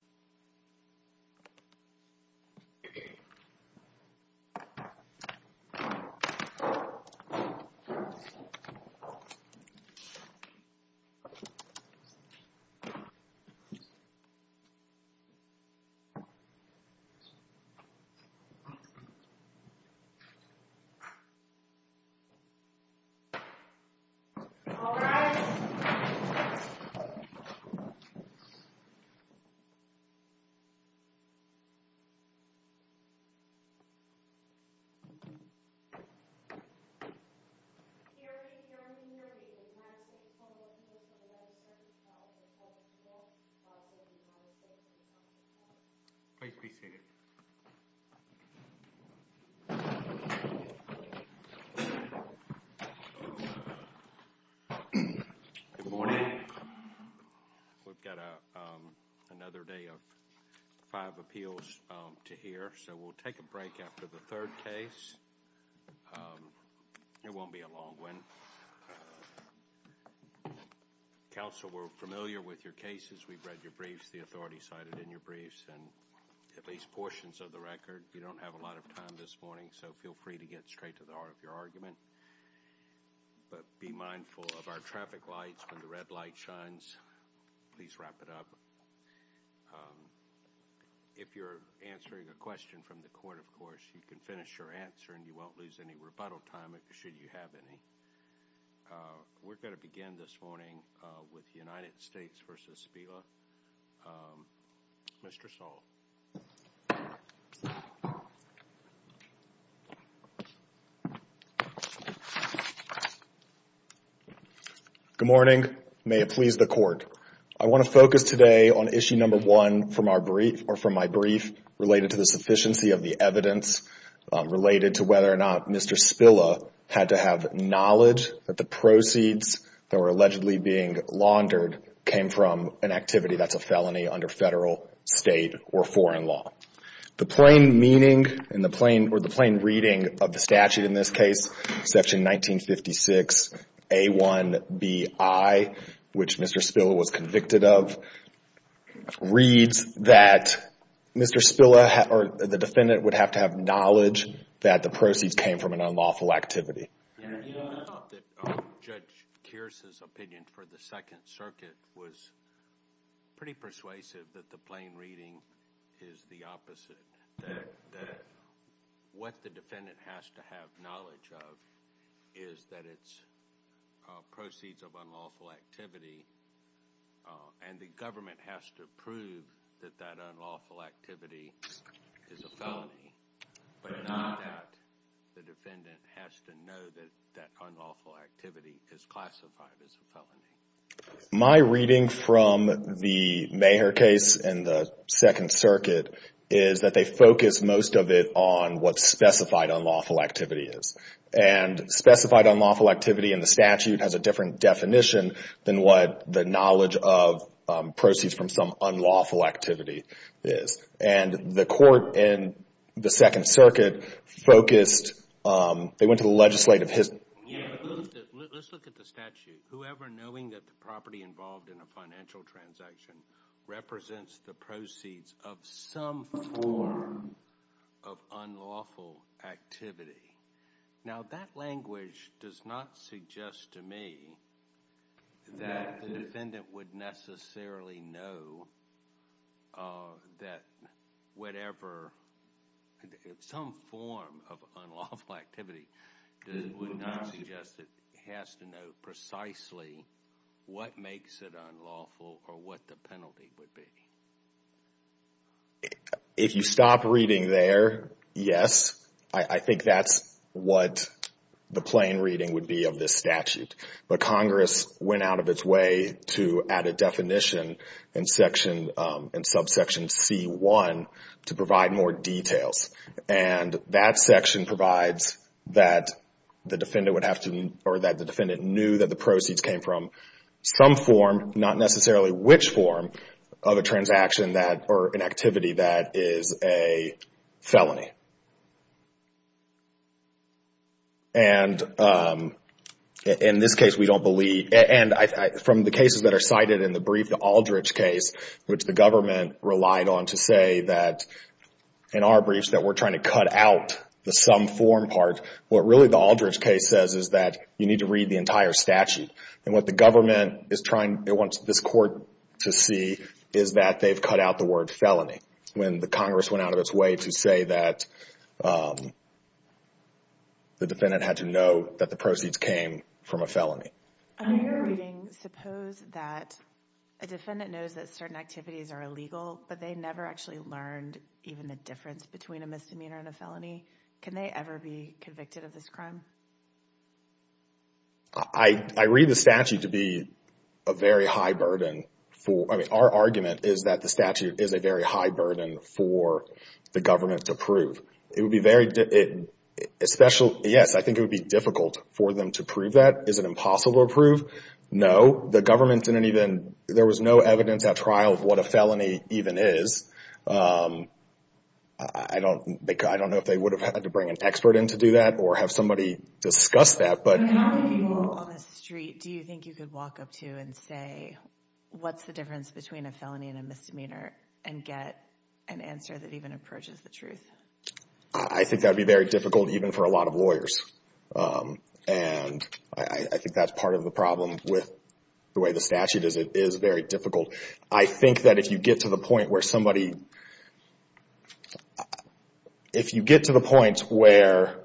And the first thing we're going to do is we're going to take a break after the third case. It won't be a long one. Council were familiar with your cases. We've read your briefs, the authority cited in your briefs, and at least portions of the record. We don't have a lot of time this morning, so feel free to get straight to the heart of your argument. But be mindful of our traffic lights when the red light shines, please wrap it up. If you're answering a question from the court, of course, you can finish your answer and you won't lose any rebuttal time should you have any. We're going to begin this morning with United States v. Spilla, Mr. Saul. Good morning. May it please the court. I want to focus today on issue number one from my brief related to the sufficiency of the evidence related to whether or not Mr. Spilla had to have knowledge that the proceeds that were allegedly being laundered came from an activity that's a felony under federal, state, or foreign law. The plain meaning or the plain reading of the statute in this case, section 1956A1BI, which Mr. Spilla was convicted of, reads that Mr. Spilla or the defendant would have to have knowledge that the proceeds came from an unlawful activity. I thought that Judge Kearse's opinion for the Second Circuit was pretty persuasive that the plain reading is the opposite, that what the defendant has to have knowledge of is that it's proceeds of unlawful activity and the government has to prove that that unlawful activity is a felony, but not that the defendant has to know that that unlawful activity is classified as a felony. My reading from the Maher case in the Second Circuit is that they focus most of it on what unlawful activity in the statute has a different definition than what the knowledge of proceeds from some unlawful activity is. The court in the Second Circuit focused... They went to the legislative... Let's look at the statute. Whoever knowing that the property involved in a financial transaction represents the proceeds of some form of unlawful activity. Now, that language does not suggest to me that the defendant would necessarily know that whatever... Some form of unlawful activity would not suggest it has to know precisely what makes it unlawful or what the penalty would be. If you stop reading there, yes. I think that's what the plain reading would be of this statute, but Congress went out of its way to add a definition in subsection C1 to provide more details. That section provides that the defendant knew that the proceeds came from some form, not unlawful activity, that is a felony. From the cases that are cited in the brief, the Aldridge case, which the government relied on to say that in our briefs that we're trying to cut out the some form part, what really the Aldridge case says is that you need to read the entire statute. What the government wants this court to see is that they've cut out the word felony when the Congress went out of its way to say that the defendant had to know that the proceeds came from a felony. In your reading, suppose that a defendant knows that certain activities are illegal, but they never actually learned even the difference between a misdemeanor and a felony. Can they ever be convicted of this crime? I read the statute to be a very high burden for, I mean, our argument is that the statute is a very high burden for the government to prove. It would be very, especially, yes, I think it would be difficult for them to prove that. Is it impossible to prove? No. The government didn't even, there was no evidence at trial of what a felony even is. I don't know if they would have had to bring an expert in to do that or have somebody discuss that, but... How many people on the street do you think you could walk up to and say, what's the difference between a felony and a misdemeanor, and get an answer that even approaches the truth? I think that would be very difficult even for a lot of lawyers. I think that's part of the problem with the way the statute is, it is very difficult. I think that if you get to the point where somebody, if you get to the point where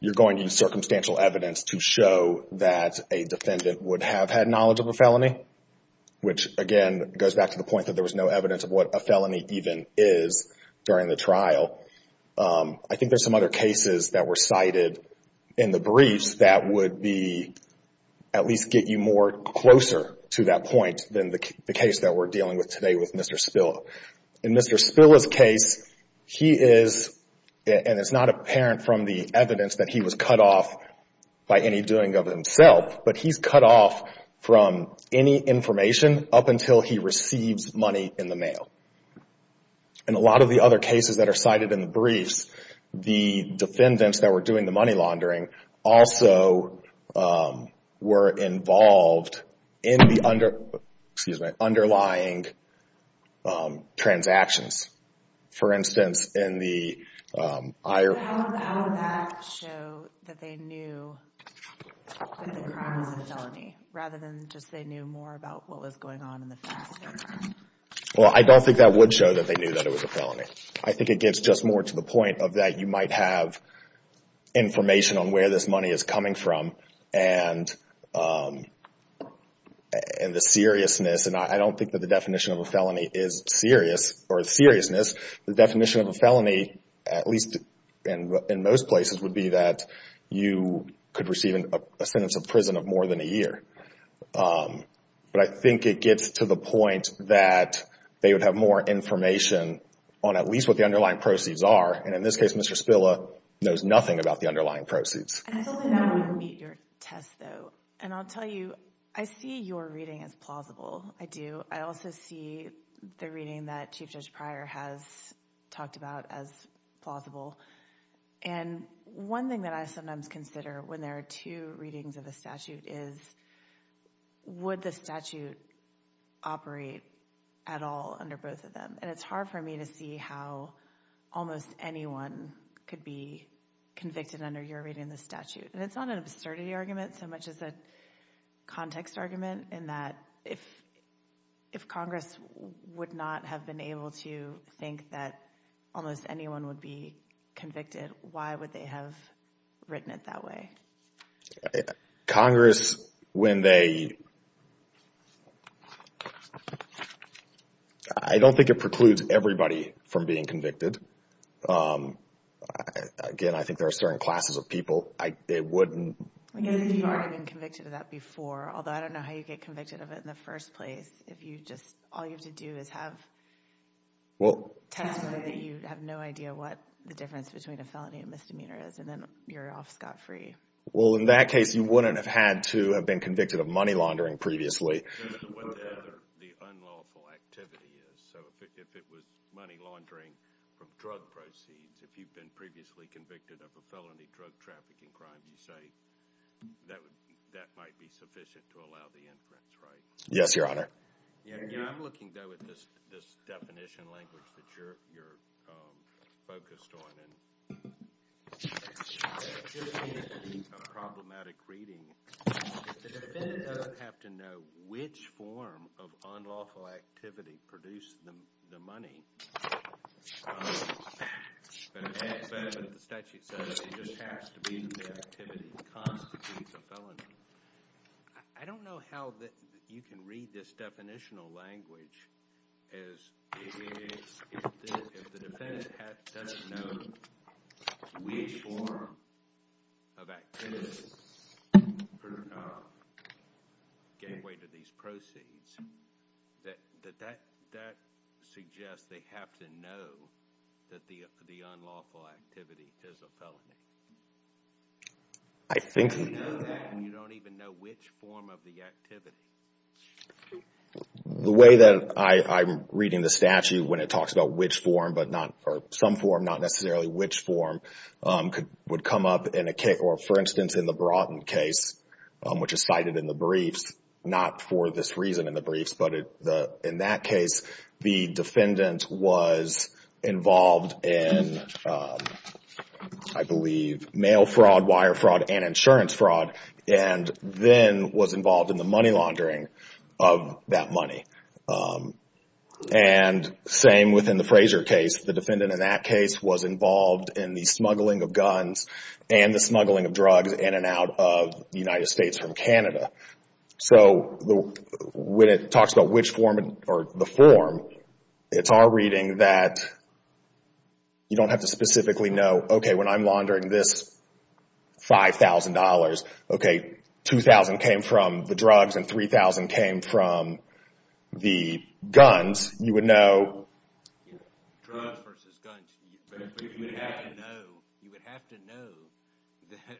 you're going to use circumstantial evidence to show that a defendant would have had knowledge of a felony, which, again, goes back to the point that there was no evidence of what a felony even is during the trial, I think there's some other cases that were cited in the briefs that would be, at least get you more closer to that point than the case that we're dealing with today with Mr. Spilla. In Mr. Spilla's case, he is, and it's not apparent from the evidence that he was cut off by any doing of himself, but he's cut off from any information up until he receives money in the mail. In a lot of the other cases that are cited in the briefs, the defendants that were doing the money laundering also were involved in the underlying transactions. For instance, in the... How would that show that they knew that the crime was a felony, rather than just they knew more about what was going on in the facts of the crime? Well, I don't think that would show that they knew that it was a felony. I think it gets just more to the point of that you might have information on where this money is coming from and the seriousness. I don't think that the definition of a felony is serious or seriousness. The definition of a felony, at least in most places, would be that you could receive a sentence of prison of more than a year. But I think it gets to the point that they would have more information on at least what the underlying proceeds are, and in this case, Mr. Spilla knows nothing about the underlying proceeds. I don't think that would meet your test, though. And I'll tell you, I see your reading as plausible. I do. I also see the reading that Chief Judge Pryor has talked about as plausible. And one thing that I sometimes consider when there are two readings of a statute is, would the statute operate at all under both of them? And it's hard for me to see how almost anyone could be convicted under your reading of the statute. And it's not an absurdity argument so much as a context argument in that if Congress would not have been able to think that almost anyone would be convicted, why would they have written it that way? Congress, when they... I don't think it precludes everybody from being convicted. Again, I think there are certain classes of people. It wouldn't... I know that you've already been convicted of that before, although I don't know how you get convicted of it in the first place if you just... All you have to do is have testimony that you have no idea what the difference between a felony and misdemeanor is, and then you're off scot-free. Well, in that case, you wouldn't have had to have been convicted of money laundering previously. Given what the unlawful activity is, so if it was money laundering from drug proceeds, if you've been previously convicted of a felony drug trafficking crime, you say that might be sufficient to allow the inference, right? Yes, Your Honor. Yeah, I'm looking, though, at this definition language that you're focused on, and it gives me a problematic reading. The defendant doesn't have to know which form of unlawful activity produced the money, but the statute says it just has to be the activity that constitutes a felony. I don't know how you can read this definitional language as if the defendant doesn't know which form of activity gave way to these proceeds, that that suggests they have to know that the unlawful activity is a felony. You don't even know which form of the activity. The way that I'm reading the statute when it talks about which form, or some form, not necessarily which form, would come up in a case, or for instance, in the Broughton case, which is cited in the briefs, not for this reason in the briefs, but in that case, the defendant was involved in, I believe, mail fraud, wire fraud, and insurance fraud, and then was involved in the money laundering of that money. And same within the Fraser case. The defendant in that case was involved in the smuggling of guns and the smuggling of drugs in and out of the United States from Canada. So when it talks about which form, or the form, it's our reading that you don't have to specifically know, okay, when I'm laundering this $5,000, okay, $2,000 came from the drugs and $3,000 came from the guns. You would know... Drugs versus guns. You would have to know that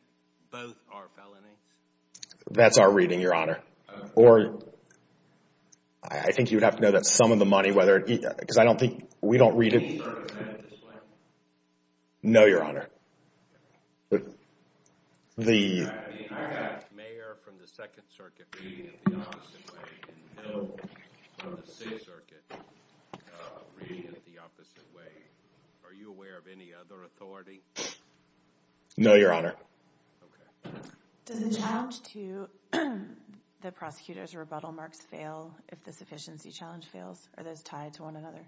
both are felonies. That's our reading, Your Honor. Okay. Or I think you would have to know that some of the money, whether it, because I don't think, we don't read it... Any circuits have it this way? No, Your Honor. But the... I mean, I have mayor from the Second Circuit reading it the opposite way, and no one from the Sixth Circuit reading it the opposite way. Are you aware of any other authority? No, Your Honor. Okay. Does the challenge to the prosecutor's rebuttal marks fail if the sufficiency challenge fails? Are those tied to one another?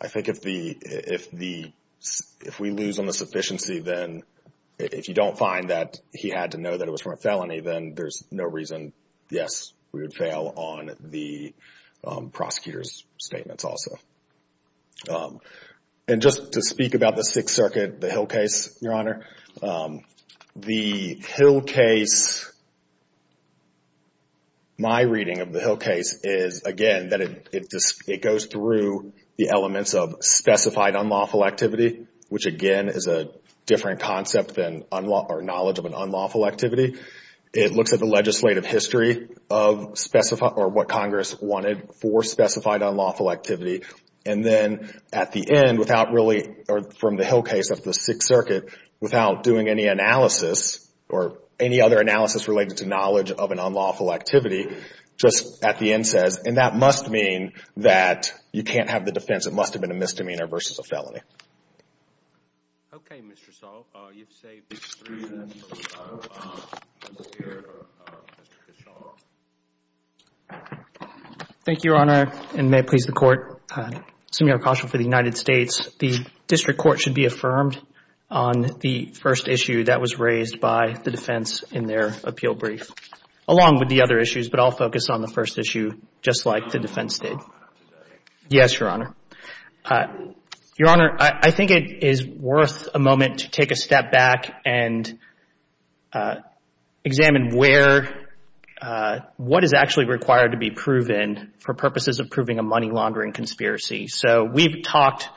I think if the... If we lose on the sufficiency, then if you don't find that he had to know that it was from a felony, then there's no reason, yes, we would fail on the prosecutor's statements also. And just to speak about the Sixth Circuit, the Hill case, Your Honor. The Hill case, my reading of the Hill case is, again, that it goes through the elements of specified unlawful activity, which again is a different concept than knowledge of an unlawful activity. It looks at the legislative history of specified, or what Congress wanted for specified unlawful activity. And then at the end, without really, or from the Hill case of the Sixth Circuit, without doing any analysis, or any other analysis related to knowledge of an unlawful activity, just at the end says, and that must mean that you can't have the defense. It must have been a misdemeanor versus a felony. Okay, Mr. Saul. You've saved me three minutes, Mr. Kishore. Thank you, Your Honor, and may it please the Court. Samir Khashoggi for the United States. The district court should be affirmed on the first issue that was raised by the defense in their appeal brief, along with the other issues, but I'll focus on the first issue, just like the defense did. Yes, Your Honor. Your Honor, I think it is worth a moment to take a step back and examine where, what is actually required to be proven for purposes of proving a money laundering conspiracy. So we've talked,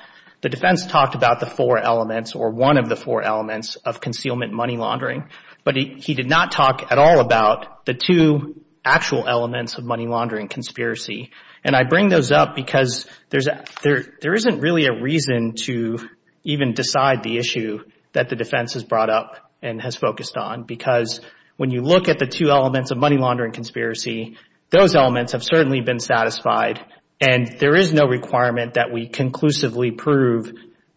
the defense talked about the four elements, or one of the four elements of concealment money laundering, but he did not talk at all about the two actual elements of money laundering conspiracy. And I bring those up because there isn't really a reason to even decide the issue that the defense has brought up and has focused on because when you look at the two elements of money laundering conspiracy, those elements have certainly been satisfied and there is no requirement that we conclusively prove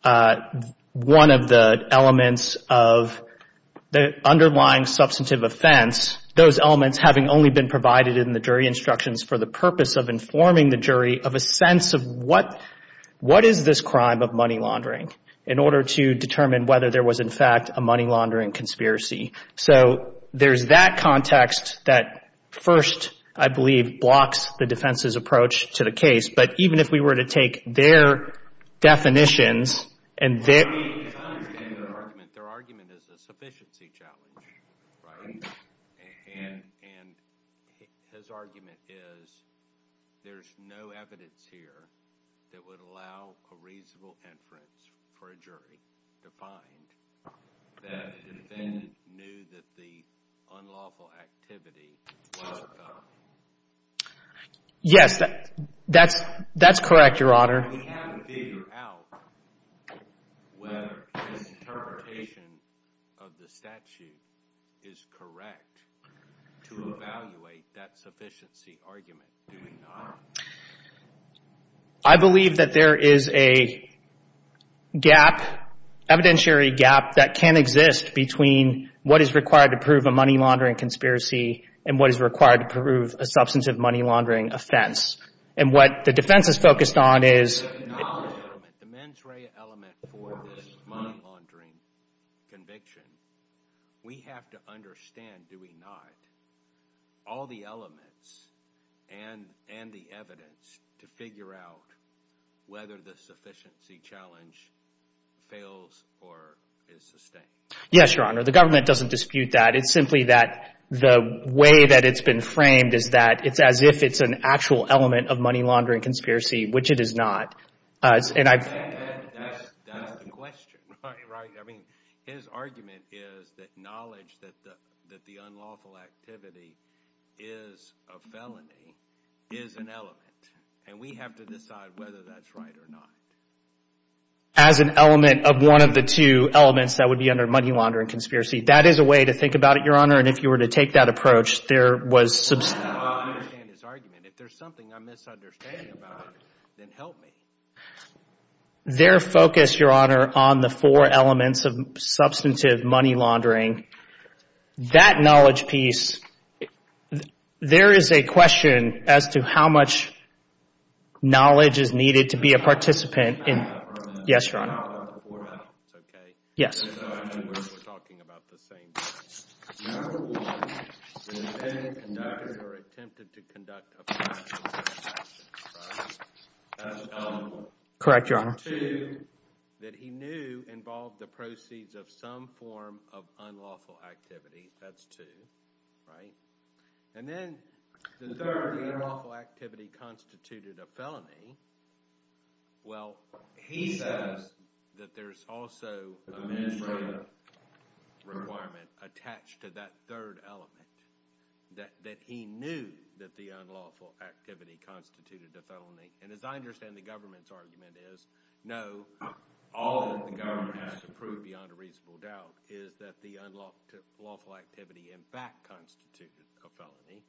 one of the elements of the underlying substantive offense, those elements having only been provided in the jury instructions for the purpose of informing the jury of a sense of what is this crime of money laundering in order to determine whether there was, in fact, a money laundering conspiracy. So there's that context that first, I believe, blocks the defense's approach to the case. But even if we were to take their definitions and their... Their argument is a sufficiency challenge, and his argument is there's no evidence here that would allow a reasonable inference for a jury to find that the defendant knew that the unlawful activity was a crime. Yes, that's correct, Your Honor. We have to figure out whether his interpretation of the statute is correct to evaluate that sufficiency argument, do we not? I believe that there is a gap, evidentiary gap, that can exist between what is required to prove a money laundering conspiracy and what is required to prove a substantive money laundering offense. And what the defense is focused on is... The mens rea element for this money laundering conviction, we have to understand, do we not, all the elements and the evidence to figure out whether the sufficiency challenge fails or is sustained. Yes, Your Honor, the government doesn't dispute that. It's simply that the way that it's been framed is that it's as if it's an actual element of money laundering conspiracy, which it is not. That's the question, right? I mean, his argument is that knowledge that the unlawful activity is a felony is an element. And we have to decide whether that's right or not. As an element of one of the two elements that would be under money laundering conspiracy. That is a way to think about it, Your Honor. And if you were to take that approach, there was... I don't understand his argument. If there's something I'm misunderstanding about it, then help me. Their focus, Your Honor, on the four elements of substantive money laundering, that knowledge piece, there is a question as to how much knowledge is needed to be a participant in... Yes, Your Honor. Correct, Your Honor. ...that he knew involved the proceeds of some form of unlawful activity. That's two, right? And then the third, the unlawful activity constituted a felony. Well, he says that there's also an administrative requirement attached to that third element. That he knew that the unlawful activity constituted a felony. And as I understand the government's argument is, no, all that the government has to prove beyond a reasonable doubt is that the unlawful activity in fact constituted a felony,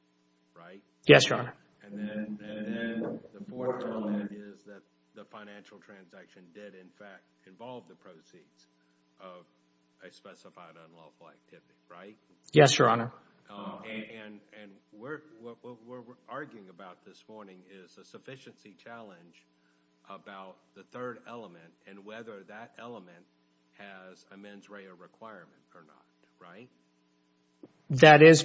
right? Yes, Your Honor. And then the fourth element is that the financial transaction did in fact involve the proceeds of a specified unlawful activity, right? Yes, Your Honor. And what we're arguing about this morning is a sufficiency challenge about the third element and whether that element has a mens rea requirement or not, right? That is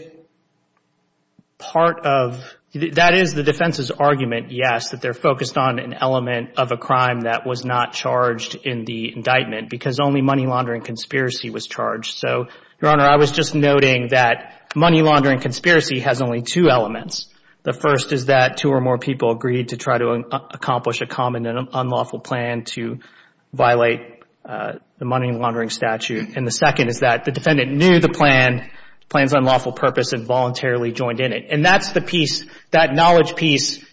part of... That is the defense's argument, yes, that they're focused on an element of a crime that was not charged in the indictment because only money laundering conspiracy was charged. So, Your Honor, I was just noting that money laundering conspiracy has only two elements. The first is that two or more people agreed to try to accomplish a common and unlawful plan to violate the money laundering statute. And the second is that the defendant knew the plan, the plan's unlawful purpose, and voluntarily joined in it. And that's the piece, that knowledge piece,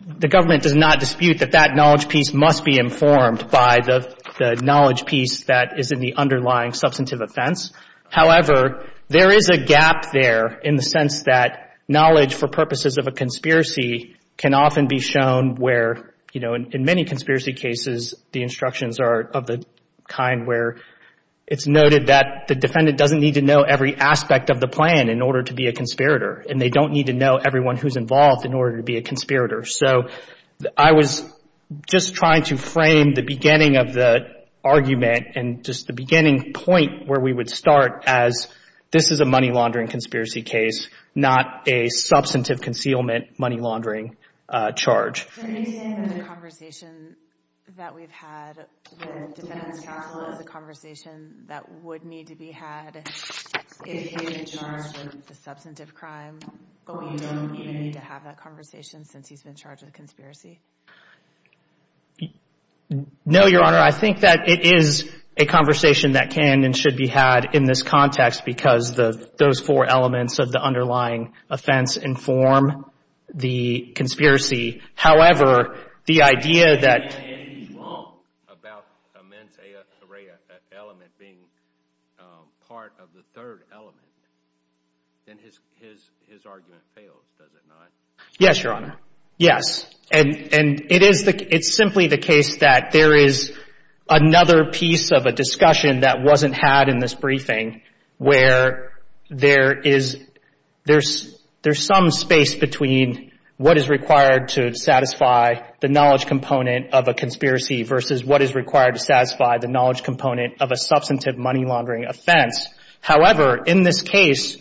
the government does not dispute that that knowledge piece must be informed by the knowledge piece that is in the underlying substantive offense. However, there is a gap there in the sense that knowledge for purposes of a conspiracy can often be shown where, you know, in many conspiracy cases, the instructions are of the kind where it's noted that the defendant doesn't need to know every aspect of the plan in order to be a conspirator, and they don't need to know everyone who's involved in order to be a conspirator. So I was just trying to frame the beginning of the argument and just the beginning point where we would start as this is a money laundering conspiracy case, not a substantive concealment money laundering charge. The conversation that we've had with the defendant's counsel is a conversation that would need to be had if he's in charge of the substantive crime. But we don't need to have that conversation since he's been charged with a conspiracy. No, Your Honor, I think that it is a conversation that can and should be had in this context because those four elements of the underlying offense inform the conspiracy. However, the idea that he's wrong about immense element being part of the third element, then his argument fails, does it not? Yes, Your Honor. Yes. And it is the – it's simply the case that there is another piece of a discussion that wasn't had in this briefing where there is – there's some space between what is required to satisfy the knowledge component of a conspiracy versus what is required to satisfy the knowledge component of a substantive money laundering offense. However, in this case,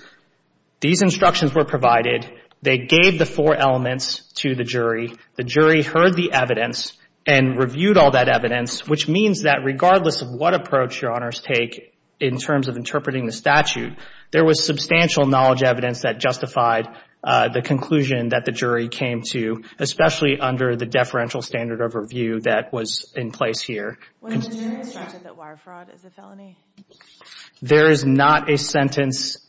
these instructions were provided. They gave the four elements to the jury. The jury heard the evidence and reviewed all that evidence, which means that regardless of what approach Your Honors take in terms of interpreting the statute, there was substantial knowledge evidence that justified the conclusion that the jury came to, especially under the deferential standard of review that was in place here. Was the jury instructed that wire fraud is a felony? There is not a sentence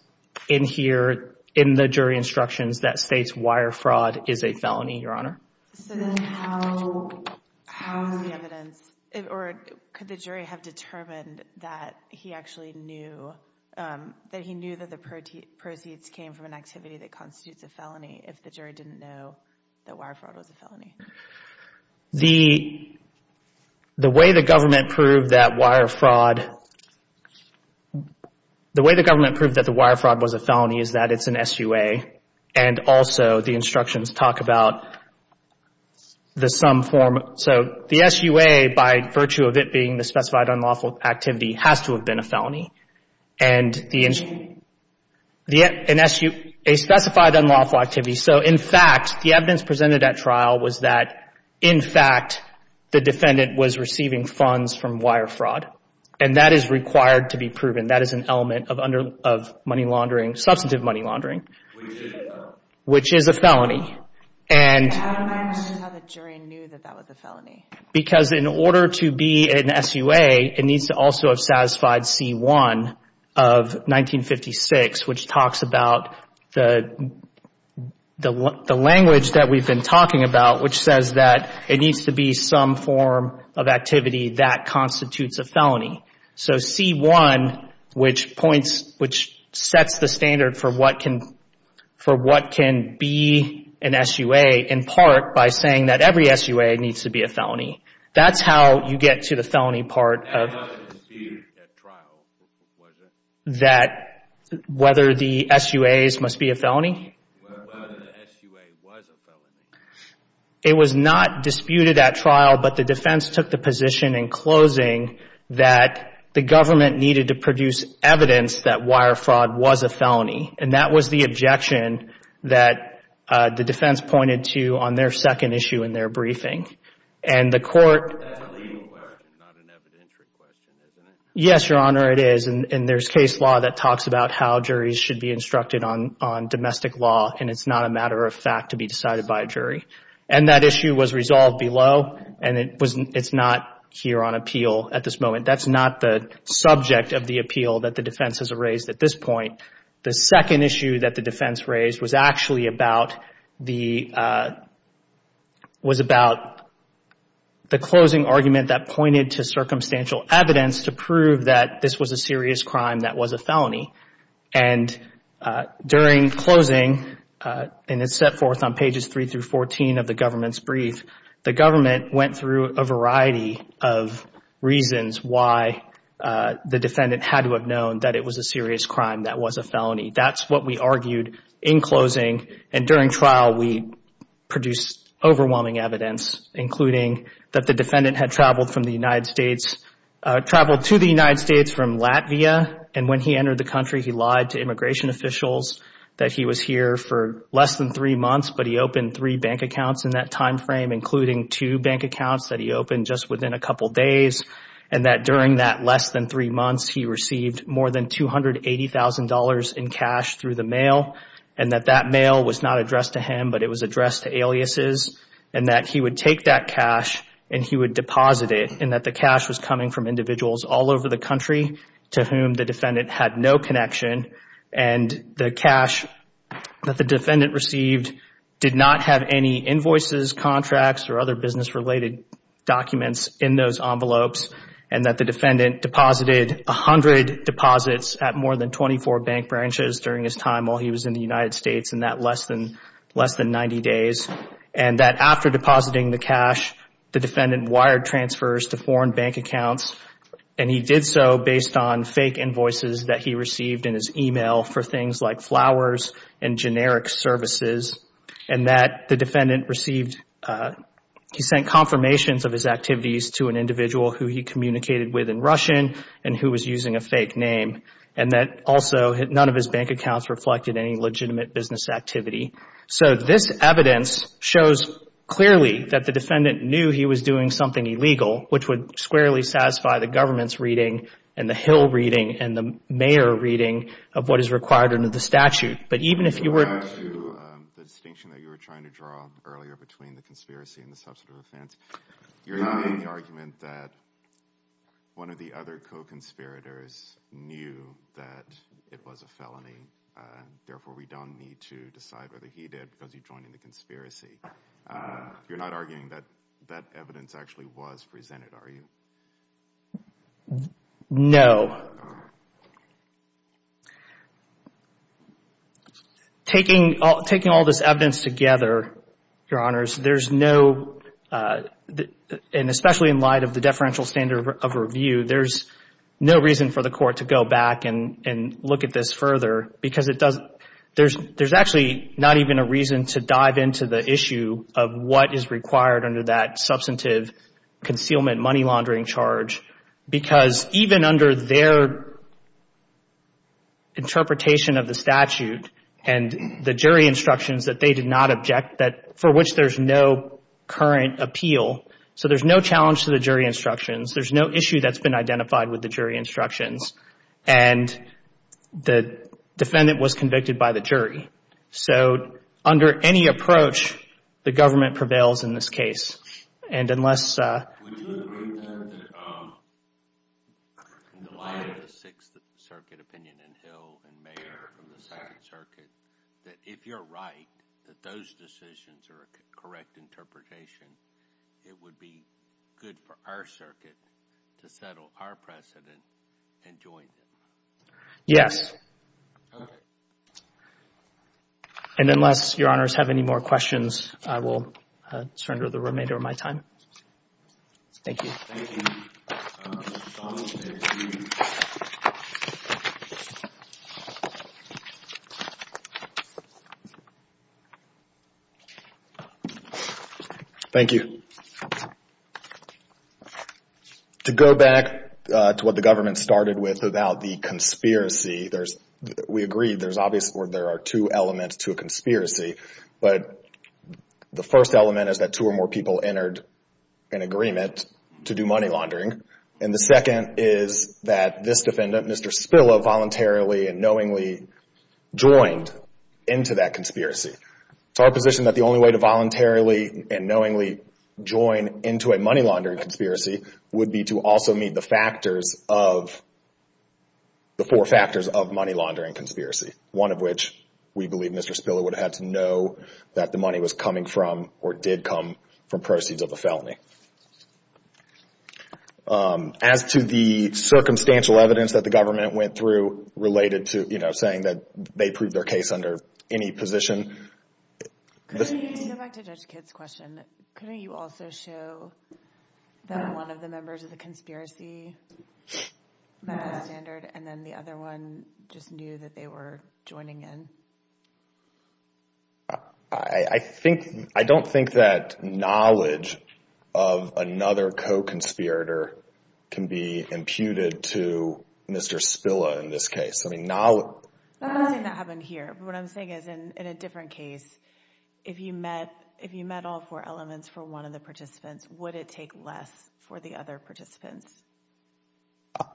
in here in the jury instructions that states wire fraud is a felony, Your Honor. So then how is the evidence – or could the jury have determined that he actually knew – that he knew that the proceeds came from an activity that constitutes a felony if the jury didn't know that wire fraud was a felony? The way the government proved that wire fraud – the way the government proved that the wire fraud was a felony is that it's an SUA and also the instructions talk about the sum form. So the SUA, by virtue of it being the specified unlawful activity, has to have been a felony. And the – a specified unlawful activity. So, in fact, the evidence presented at trial was that, in fact, the defendant was receiving funds from wire fraud. And that is required to be proven. That is an element of money laundering – substantive money laundering. Which is a felony. And – How did the jury know that that was a felony? Because in order to be an SUA, it needs to also have satisfied C-1 of 1956, which talks about the language that we've been talking about, which says that it needs to be some form of activity that constitutes a felony. So C-1, which points – which sets the standard for what can – for what can be an SUA, in part by saying that every SUA needs to be a felony. That's how you get to the felony part of – That was disputed at trial, was it? That – whether the SUAs must be a felony? Whether the SUA was a felony. It was not disputed at trial, but the defense took the position in closing that the government needed to produce evidence that wire fraud was a felony. And that was the objection that the defense pointed to on their second issue in their briefing. And the court – That's a legal question, not an evidentiary question, isn't it? Yes, Your Honor, it is. And there's case law that talks about how juries should be instructed on domestic law. And it's not a matter of fact to be decided by a jury. And that issue was resolved below, and it's not here on appeal at this moment. That's not the subject of the appeal that the defense has raised at this point. The second issue that the defense raised was actually about the – was about the closing argument that pointed to circumstantial evidence to prove that this was a serious crime that was a felony. And during closing, and it's set forth on pages 3 through 14 of the government's brief, the government went through a variety of reasons why the defendant had to have known that it was a serious crime that was a felony. That's what we argued in closing. And during trial, we produced overwhelming evidence, including that the defendant had traveled from the United States – traveled to the United States from Latvia, and when he entered the country he lied to immigration officials that he was here for less than three months, but he opened three bank accounts in that timeframe, including two bank accounts that he opened just within a couple days, and that during that less than three months, he received more than $280,000 in cash through the mail, and that that mail was not addressed to him, but it was addressed to aliases, and that he would take that cash and he would deposit it, and that the cash was coming from individuals all over the country to whom the defendant had no connection, and the cash that the defendant received did not have any invoices, contracts, or other business-related documents in those envelopes, and that the defendant deposited 100 deposits at more than 24 bank branches during his time while he was in the United States in that less than 90 days, and that after depositing the cash, the defendant wired transfers to foreign bank accounts, and he did so based on fake invoices that he received in his email for things like flowers and generic services, and that the defendant received – he sent confirmations of his activities to an individual who he communicated with in Russian and who was using a fake name, and that also none of his bank accounts reflected any legitimate business activity. So this evidence shows clearly that the defendant knew he was doing something illegal, which would squarely satisfy the government's reading and the Hill reading and the mayor reading of what is required under the statute. But even if you were to – The distinction that you were trying to draw earlier between the conspiracy and the substantive offense, you're using the argument that one of the other co-conspirators knew that it was a felony, therefore we don't need to decide whether he did because he joined in the conspiracy. You're not arguing that that evidence actually was presented, are you? No. Taking all this evidence together, Your Honors, there's no – and especially in light of the deferential standard of review, there's no reason for the court to go back and look at this further because it doesn't – there's actually not even a reason to dive into the issue of what is required under that substantive concealment money laundering charge because even under their interpretation of the statute and the jury instructions that they did not object, for which there's no current appeal, so there's no challenge to the jury instructions, there's no issue that's been identified with the jury instructions, and the defendant was convicted by the jury. So under any approach, the government prevails in this case. And unless – Would you agree, then, that in light of the Sixth Circuit opinion and Hill and Mayer from the Second Circuit, that if you're right, that those decisions are a correct interpretation, it would be good for our circuit to settle our precedent and join them? And unless Your Honors have any more questions, I will surrender the remainder of my time. Thank you. Thank you. Counsel, please. Thank you. To go back to what the government started with about the conspiracy, we agree there's obviously – or there are two elements to a conspiracy, but the first element is that two or more people entered an agreement to do money laundering, and the second is that this defendant, Mr. Spilla, voluntarily and knowingly joined into that conspiracy. It's our position that the only way to voluntarily and knowingly join into a money laundering conspiracy would be to also meet the factors of – the four factors of money laundering conspiracy, one of which we believe Mr. Spilla would have had to know that the money was coming from or did come from proceeds of a felony. As to the circumstantial evidence that the government went through related to saying that they proved their case under any position – To go back to Judge Kidd's question, couldn't you also show that one of the members of the conspiracy met that standard and then the other one just knew that they were joining in? I don't think that knowledge of another co-conspirator can be imputed to Mr. Spilla in this case. I'm not saying that happened here. What I'm saying is in a different case, if you met all four elements for one of the participants, would it take less for the other participants?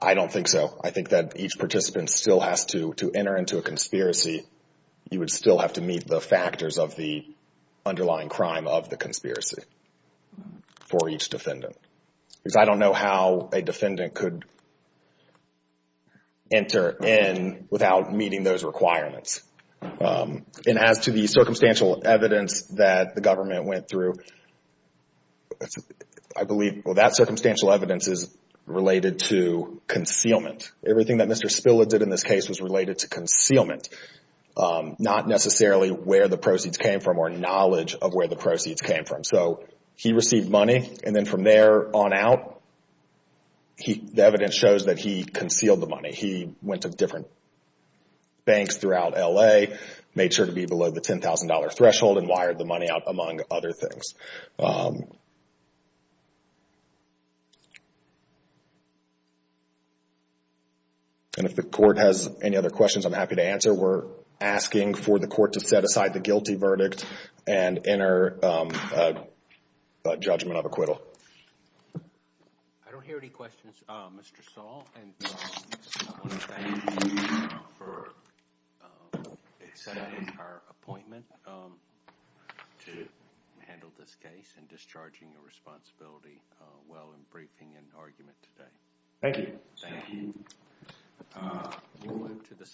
I don't think so. I think that each participant still has to enter into a conspiracy. You would still have to meet the factors of the underlying crime of the conspiracy for each defendant. Because I don't know how a defendant could enter in without meeting those requirements. As to the circumstantial evidence that the government went through, I believe that circumstantial evidence is related to concealment. Everything that Mr. Spilla did in this case was related to concealment, not necessarily where the proceeds came from or knowledge of where the proceeds came from. He received money and then from there on out, the evidence shows that he concealed the money. He went to different banks throughout L.A., made sure to be below the $10,000 threshold and wired the money out, among other things. If the court has any other questions, I'm happy to answer. We're asking for the court to set aside the guilty verdict and enter a judgment of acquittal. I don't hear any questions. Mr. Saul, I want to thank you for accepting our appointment to handle this case and discharging your responsibility while in briefing and argument today. Thank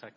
you.